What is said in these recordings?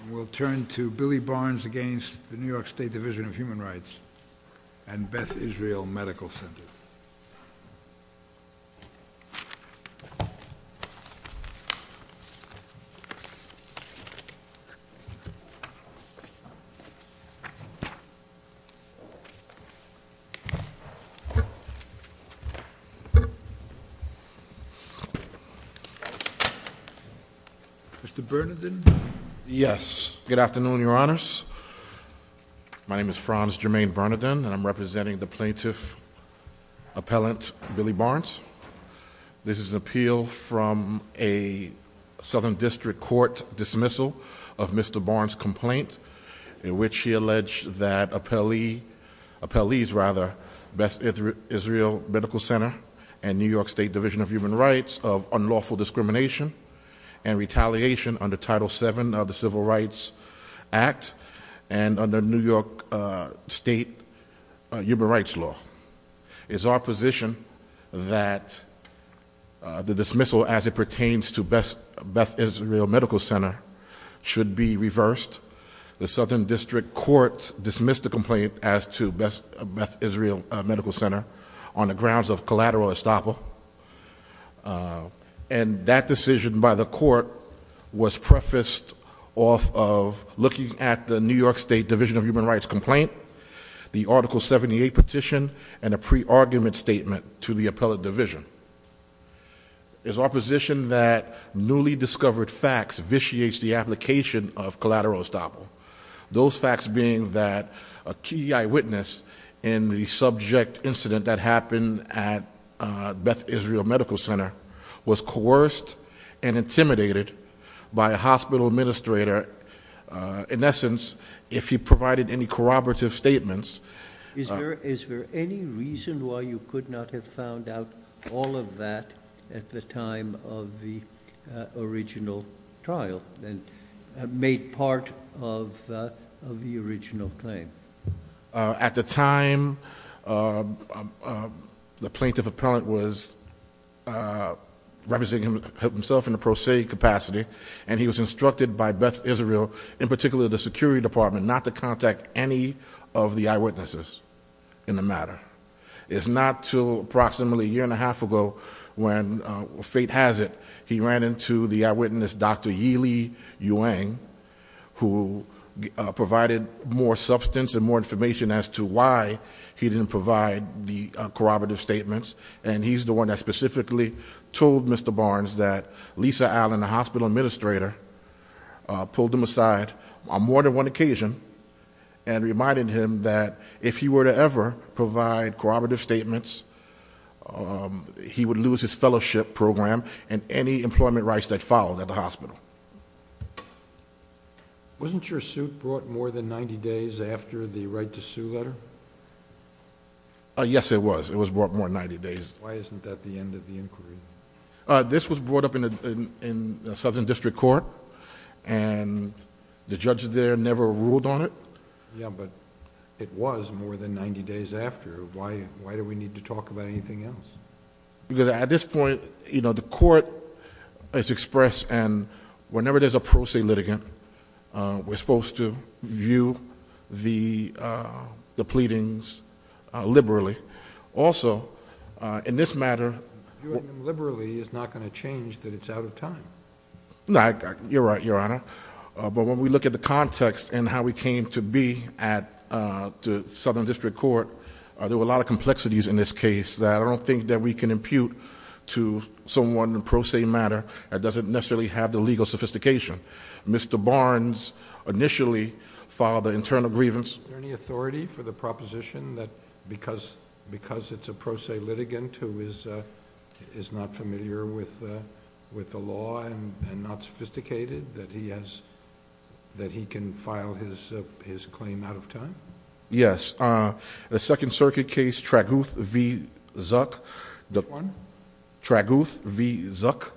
And we'll turn to Billy Barnes against the New York State Division of Human Rights and Beth Israel Medical Center. Mr. Bernardin? Yes. Good afternoon, Your Honors. My name is Franz Jermaine Bernardin, and I'm representing the plaintiff appellant, Billy Barnes. This is an appeal from a Southern District Court dismissal of Mr. Barnes' complaint in which he alleged that appellees rather, Beth Israel Medical Center and New York State Division of Human Rights of unlawful discrimination. And retaliation under Title VII of the Civil Rights Act and under New York State Human Rights Law. It's our position that the dismissal as it pertains to Beth Israel Medical Center should be reversed. The Southern District Court dismissed the complaint as to Beth Israel Medical Center on the grounds of collateral estoppel. And that decision by the court was prefaced off of looking at the New York State Division of Human Rights complaint. The Article 78 petition and a pre-argument statement to the appellate division. It's our position that newly discovered facts vitiates the application of collateral estoppel. Those facts being that a key eyewitness in the subject incident that happened at Beth Israel Medical Center was coerced and intimidated by a hospital administrator. In essence, if he provided any corroborative statements. Is there any reason why you could not have found out all of that at the time of the original trial? And made part of the original claim. At the time, the plaintiff appellant was representing himself in a pro se capacity. And he was instructed by Beth Israel, in particular the security department, not to contact any of the eyewitnesses in the matter. It's not until approximately a year and a half ago when fate has it, he ran into the eyewitness Dr. Yili Yuan, who provided more substance and more information as to why he didn't provide the corroborative statements. And he's the one that specifically told Mr. Barnes that Lisa Allen, the hospital administrator, pulled him aside on more than one occasion. And reminded him that if he were to ever provide corroborative statements, he would lose his fellowship program and any employment rights that followed at the hospital. Wasn't your suit brought more than 90 days after the right to sue letter? Yes, it was. It was brought more than 90 days. Why isn't that the end of the inquiry? This was brought up in a southern district court. And the judges there never ruled on it. Yeah, but it was more than 90 days after. Why do we need to talk about anything else? Because at this point, the court has expressed, and whenever there's a pro se litigant, we're supposed to view the pleadings liberally. Also, in this matter... Viewing them liberally is not going to change that it's out of time. You're right, Your Honor. But when we look at the context and how we came to be at the southern district court, there were a lot of complexities in this case that I don't think that we can impute to someone in pro se matter. It doesn't necessarily have the legal sophistication. Mr. Barnes initially filed an internal grievance. Is there any authority for the proposition that because it's a pro se litigant who is not familiar with the law and not sophisticated, that he can file his claim out of time? Yes. The Second Circuit case, Tragouth v. Zuck. Which one? Tragouth v. Zuck.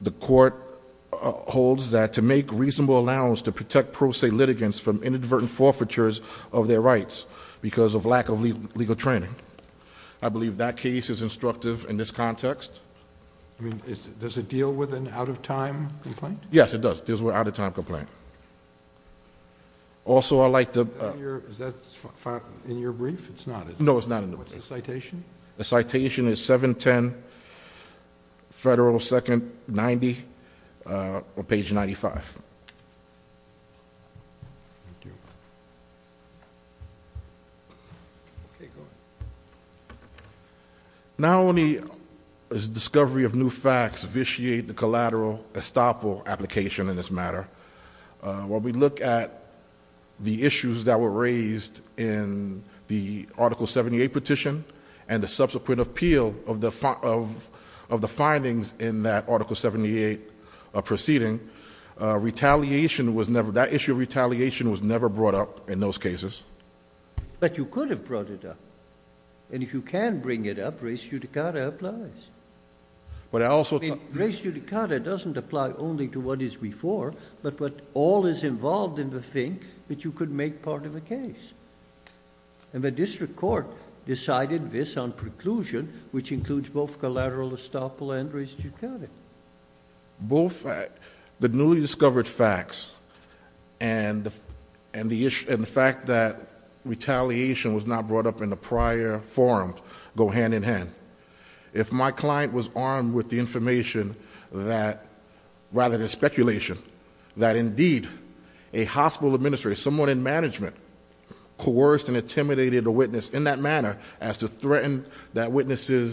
The court holds that to make reasonable allowance to protect pro se litigants from inadvertent forfeitures of their rights because of lack of legal training. I believe that case is instructive in this context. I mean, does it deal with an out of time complaint? Yes, it does. It deals with an out of time complaint. Also, I'd like to- Is that in your brief? It's not, is it? No, it's not in the brief. What's the citation? The citation is 710, Federal 2nd 90, page 95. Thank you. Okay, go ahead. Not only is the discovery of new facts vitiate the collateral estoppel application in this matter. When we look at the issues that were raised in the Article 78 petition, and the subsequent appeal of the findings in that Article 78 proceeding. Retaliation was never, that issue of retaliation was never brought up in those cases. But you could have brought it up. And if you can bring it up, res judicata applies. But I also- Res judicata doesn't apply only to what is before, but what all is involved in the thing that you could make part of a case. And the district court decided this on preclusion, which includes both collateral estoppel and res judicata. Both the newly discovered facts and the fact that retaliation was not brought up in the prior forum go hand in hand. If my client was armed with the information that, rather than speculation, that indeed a hospital administrator, someone in management, coerced and witnesses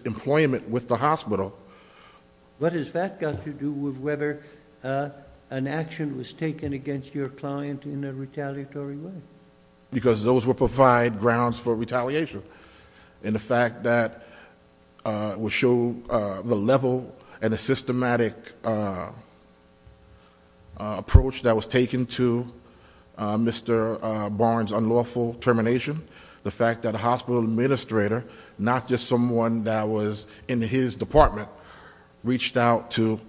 employment with the hospital. What has that got to do with whether an action was taken against your client in a retaliatory way? Because those will provide grounds for retaliation. And the fact that will show the level and the systematic approach that was taken to Mr. Barnes' unlawful termination. The fact that a hospital administrator, not just someone that was in his department, reached out to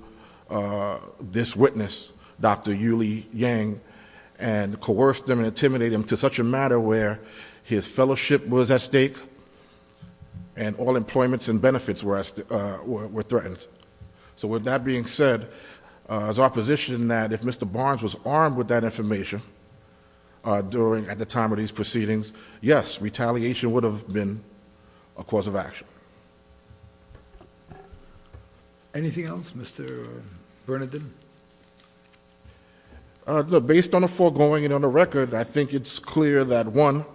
this witness, Dr. Yuli Yang. And coerced him and intimidated him to such a matter where his fellowship was at stake. And all employments and benefits were threatened. So with that being said, it's our position that if Mr. Barnes was armed with that information during, at the time of these proceedings, yes, retaliation would have been a cause of action. Anything else, Mr. Bernadine? Based on the foregoing and on the record, I think it's clear that one,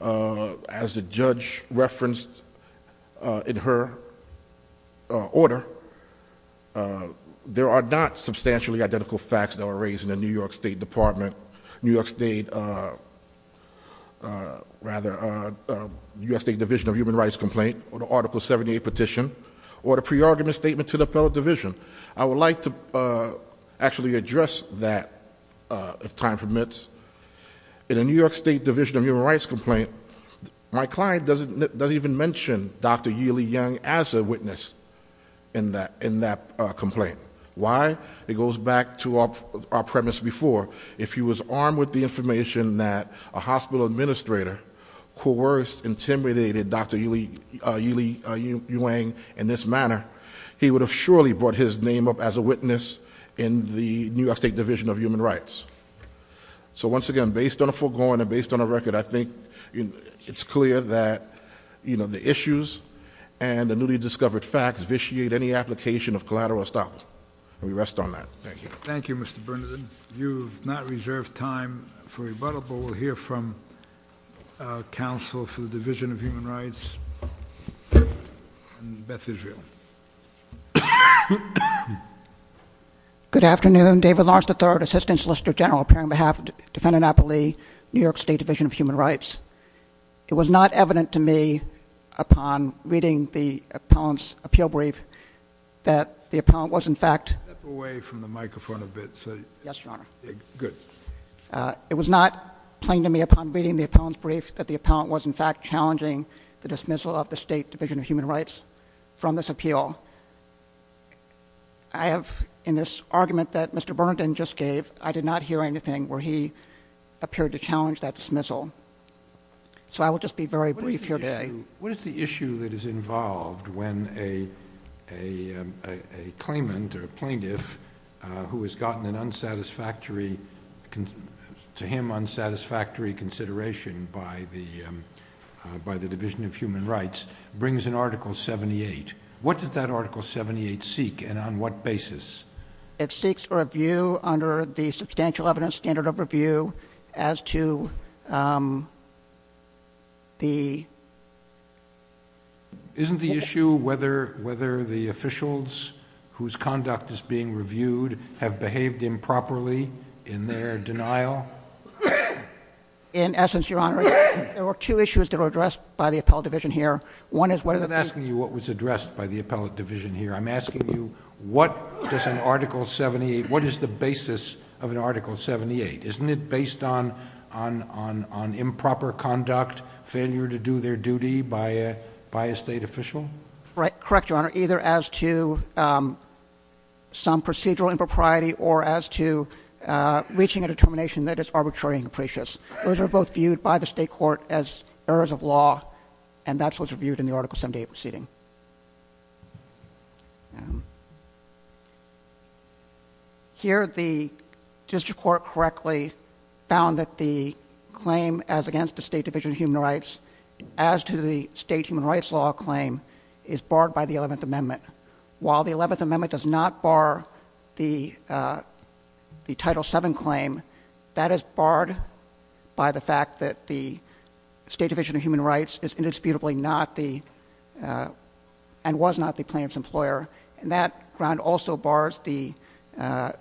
as the judge referenced in her order, there are not substantially identical facts that were raised in the New York State Department. New York State, rather, the U.S. State Division of Human Rights complaint, or the Article 78 petition, or the pre-argument statement to the Appellate Division. I would like to actually address that, if time permits. In a New York State Division of Human Rights complaint, my client doesn't even mention Dr. Yuli Yang as a witness in that complaint. Why? It goes back to our premise before. If he was armed with the information that a hospital administrator coerced, intimidated Dr. Yuli Yang in this manner, he would have surely brought his name up as a witness in the New York State Division of Human Rights. So once again, based on the foregoing and based on the record, I think it's clear that the issues and the newly discovered facts vitiate any application of collateral establishment. We rest on that. Thank you. Thank you, Mr. Bernadette. You've not reserved time for rebuttal, but we'll hear from counsel for the Division of Human Rights in Beth Israel. Good afternoon, David Larson III, Assistant Solicitor General, appearing on behalf of Defendant Appellee, New York State Division of Human Rights. It was not evident to me upon reading the appellant's appeal brief that the appellant was in fact- Step away from the microphone a bit. Yes, Your Honor. Good. It was not plain to me upon reading the appellant's brief that the appellant was in fact challenging the dismissal of the State Division of Human Rights from this appeal. I have, in this argument that Mr. Bernadette just gave, I did not hear anything where he appeared to challenge that dismissal. So I will just be very brief here today. What is the issue that is involved when a claimant or plaintiff who has gotten an unsatisfactory, to him, unsatisfactory consideration by the Division of Human Rights brings an Article 78? What does that Article 78 seek, and on what basis? It seeks a review under the substantial evidence standard of review as to the- Isn't the issue whether the officials whose conduct is being reviewed have behaved improperly in their denial? In essence, Your Honor, there were two issues that were addressed by the appellate division here. One is whether- I'm not asking you what was addressed by the appellate division here. I'm asking you what does an Article 78, what is the basis of an Article 78? Isn't it based on improper conduct, failure to do their duty by a state official? Right, correct, Your Honor, either as to some procedural impropriety or as to reaching a determination that is arbitrary and capricious. Those are both viewed by the state court as errors of law, and that's what's reviewed in the Article 78 proceeding. Here, the district court correctly found that the claim as against the State Division of Human Rights, as to the State Human Rights Law claim, is barred by the 11th Amendment. While the 11th Amendment does not bar the Title VII claim, that is barred by the fact that the State Division of Human Rights is indisputably not the, and was not the plaintiff's employer, and that ground also bars the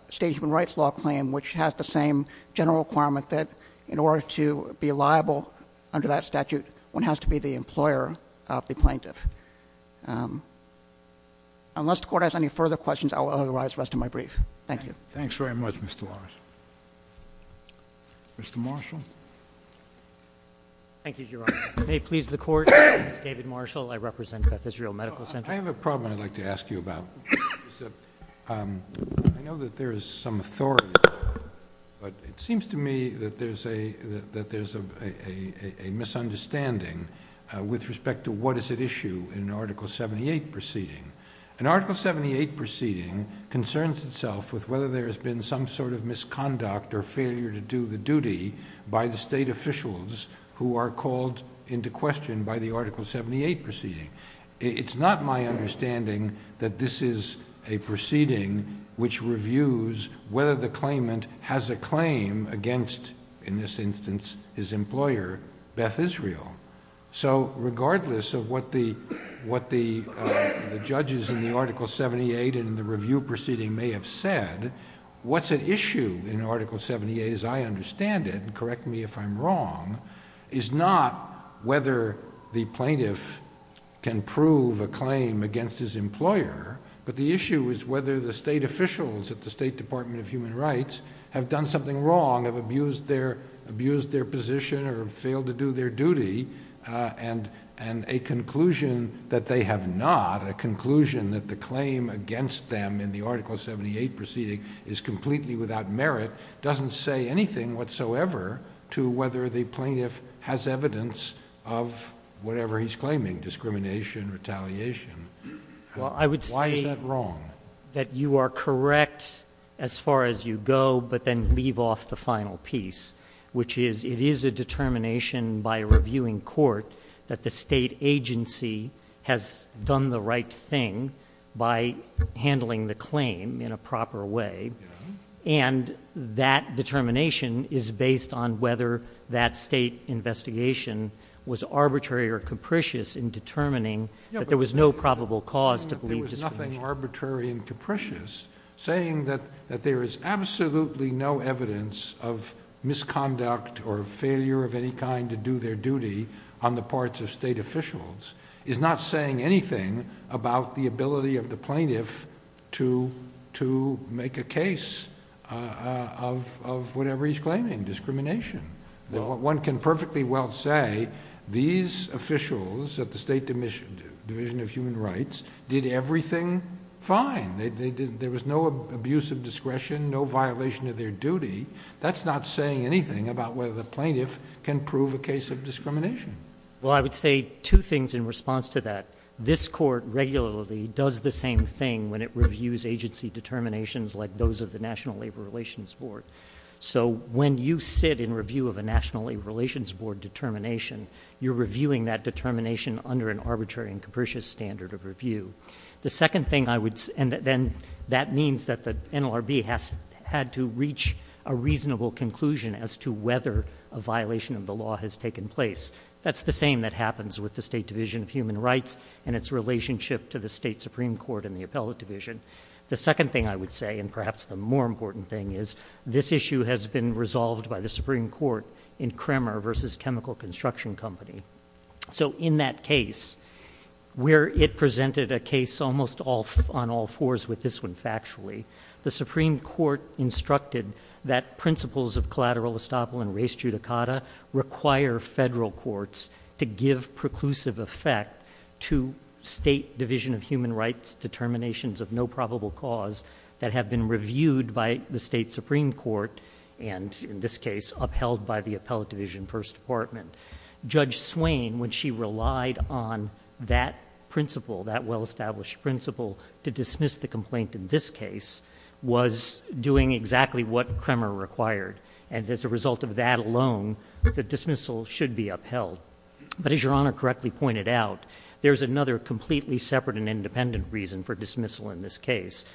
State Human Rights Law claim, which has the same general requirement that in order to be liable under that statute, one has to be the employer of the plaintiff. Unless the court has any further questions, I will authorize the rest of my brief. Thank you. Thanks very much, Mr. Lawrence. Mr. Marshall. Thank you, Your Honor. May it please the court, my name is David Marshall, I represent Beth Israel Medical Center. I have a problem I'd like to ask you about. I know that there is some authority, but it seems to me that there's a misunderstanding with respect to what is at issue in an Article 78 proceeding. An Article 78 proceeding concerns itself with whether there has been some sort of misconduct or into question by the Article 78 proceeding. It's not my understanding that this is a proceeding which reviews whether the claimant has a claim against, in this instance, his employer, Beth Israel. So regardless of what the judges in the Article 78 in the review proceeding may have said, what's at issue in Article 78 as I understand it, correct me if I'm wrong, is not whether the plaintiff can prove a claim against his employer. But the issue is whether the state officials at the State Department of Human Rights have done something wrong, have abused their position or failed to do their duty. And a conclusion that they have not, a conclusion that the claim against them in the Article 78 proceeding is completely without merit, doesn't say anything whatsoever to whether the plaintiff has evidence of whatever he's claiming, discrimination, retaliation. Why is that wrong? That you are correct as far as you go, but then leave off the final piece. Which is, it is a determination by reviewing court that the state agency has done the right thing by handling the claim in a proper way. And that determination is based on whether that state investigation was arbitrary or capricious in determining that there was no probable cause to believe discrimination. There was nothing arbitrary and capricious saying that there is absolutely no evidence of misconduct or failure of any kind to do their duty on the parts of state officials. Is not saying anything about the ability of the plaintiff to, to make a case of, of whatever he's claiming, discrimination. That what one can perfectly well say, these officials at the State Division of Human Rights did everything fine, they did, there was no abuse of discretion, no violation of their duty. That's not saying anything about whether the plaintiff can prove a case of discrimination. Well, I would say two things in response to that. This court regularly does the same thing when it reviews agency determinations like those of the National Labor Relations Board. So when you sit in review of a National Labor Relations Board determination, you're reviewing that determination under an arbitrary and capricious standard of review. The second thing I would, and then that means that the NLRB has had to reach a reasonable conclusion as to whether a violation of the law has taken place. That's the same that happens with the State Division of Human Rights and its relationship to the State Supreme Court and the Appellate Division. The second thing I would say, and perhaps the more important thing, is this issue has been resolved by the Supreme Court in Kremer versus Chemical Construction Company. So in that case, where it presented a case almost on all fours with this one factually, the Supreme Court instructed that principles of collateral estoppel and res judicata require federal courts to give preclusive effect to State Division of Human Rights determinations of no probable cause that have been reviewed by the State Supreme Court. And in this case, upheld by the Appellate Division First Department. Judge Swain, when she relied on that principle, that well established principle to dismiss the complaint in this case was doing exactly what Kremer required. And as a result of that alone, the dismissal should be upheld. But as your Honor correctly pointed out, there's another completely separate and independent reason for dismissal in this case.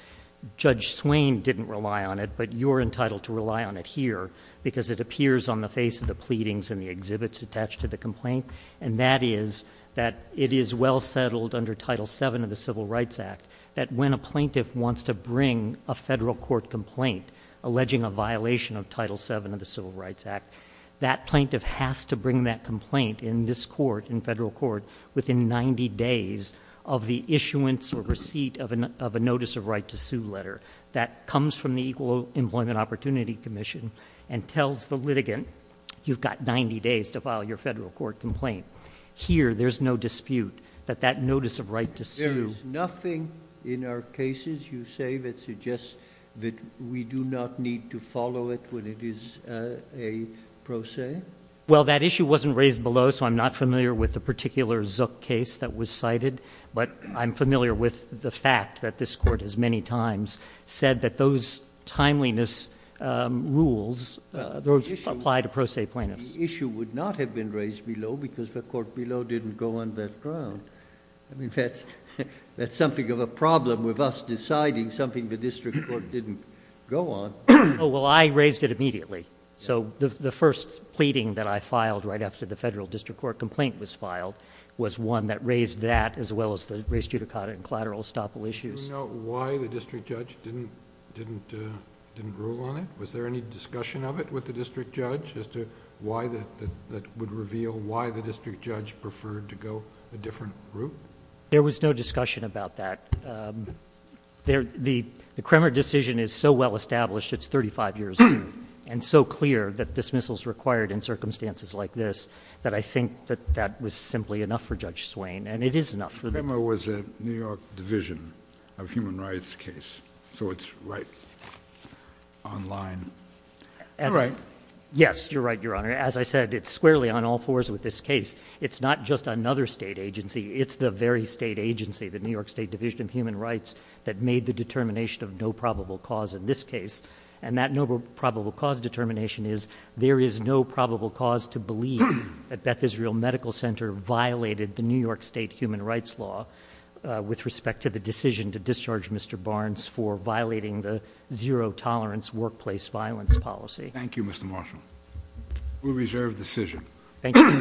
Judge Swain didn't rely on it, but you're entitled to rely on it here because it appears on the face of the pleadings and the exhibits attached to the complaint. And that is that it is well settled under Title VII of the Civil Rights Act that when a plaintiff wants to bring a federal court complaint, alleging a violation of Title VII of the Civil Rights Act, that plaintiff has to bring that complaint in this court, in federal court, within 90 days of the issuance or receipt of a notice of right to sue letter. That comes from the Equal Employment Opportunity Commission and tells the litigant, you've got 90 days to file your federal court complaint. Here, there's no dispute that that notice of right to sue- There is nothing in our cases, you say, that suggests that we do not need to follow it when it is a pro se? Well, that issue wasn't raised below, so I'm not familiar with the particular Zook case that was cited. But I'm familiar with the fact that this court has many times said that those apply to pro se plaintiffs. The issue would not have been raised below because the court below didn't go on that ground. I mean, that's something of a problem with us deciding something the district court didn't go on. Well, I raised it immediately. So the first pleading that I filed right after the federal district court complaint was filed was one that raised that as well as the race judicata and collateral estoppel issues. Do you know why the district judge didn't rule on it? Was there any discussion of it with the district judge as to why that would reveal why the district judge preferred to go a different route? There was no discussion about that. The Kremer decision is so well established, it's 35 years old, and so clear that dismissals required in circumstances like this, that I think that that was simply enough for Judge Swain. And it is enough for- Kremer was a New York division of human rights case. So it's right online. Yes, you're right, your honor. As I said, it's squarely on all fours with this case. It's not just another state agency, it's the very state agency, the New York State Division of Human Rights that made the determination of no probable cause in this case. And that no probable cause determination is there is no probable cause to believe that Beth Israel Medical Center violated the New York State Human Rights Law with respect to the decision to discharge Mr. Barnes for violating the zero tolerance workplace violence policy. Thank you, Mr. Marshall. We reserve decision. Thank you.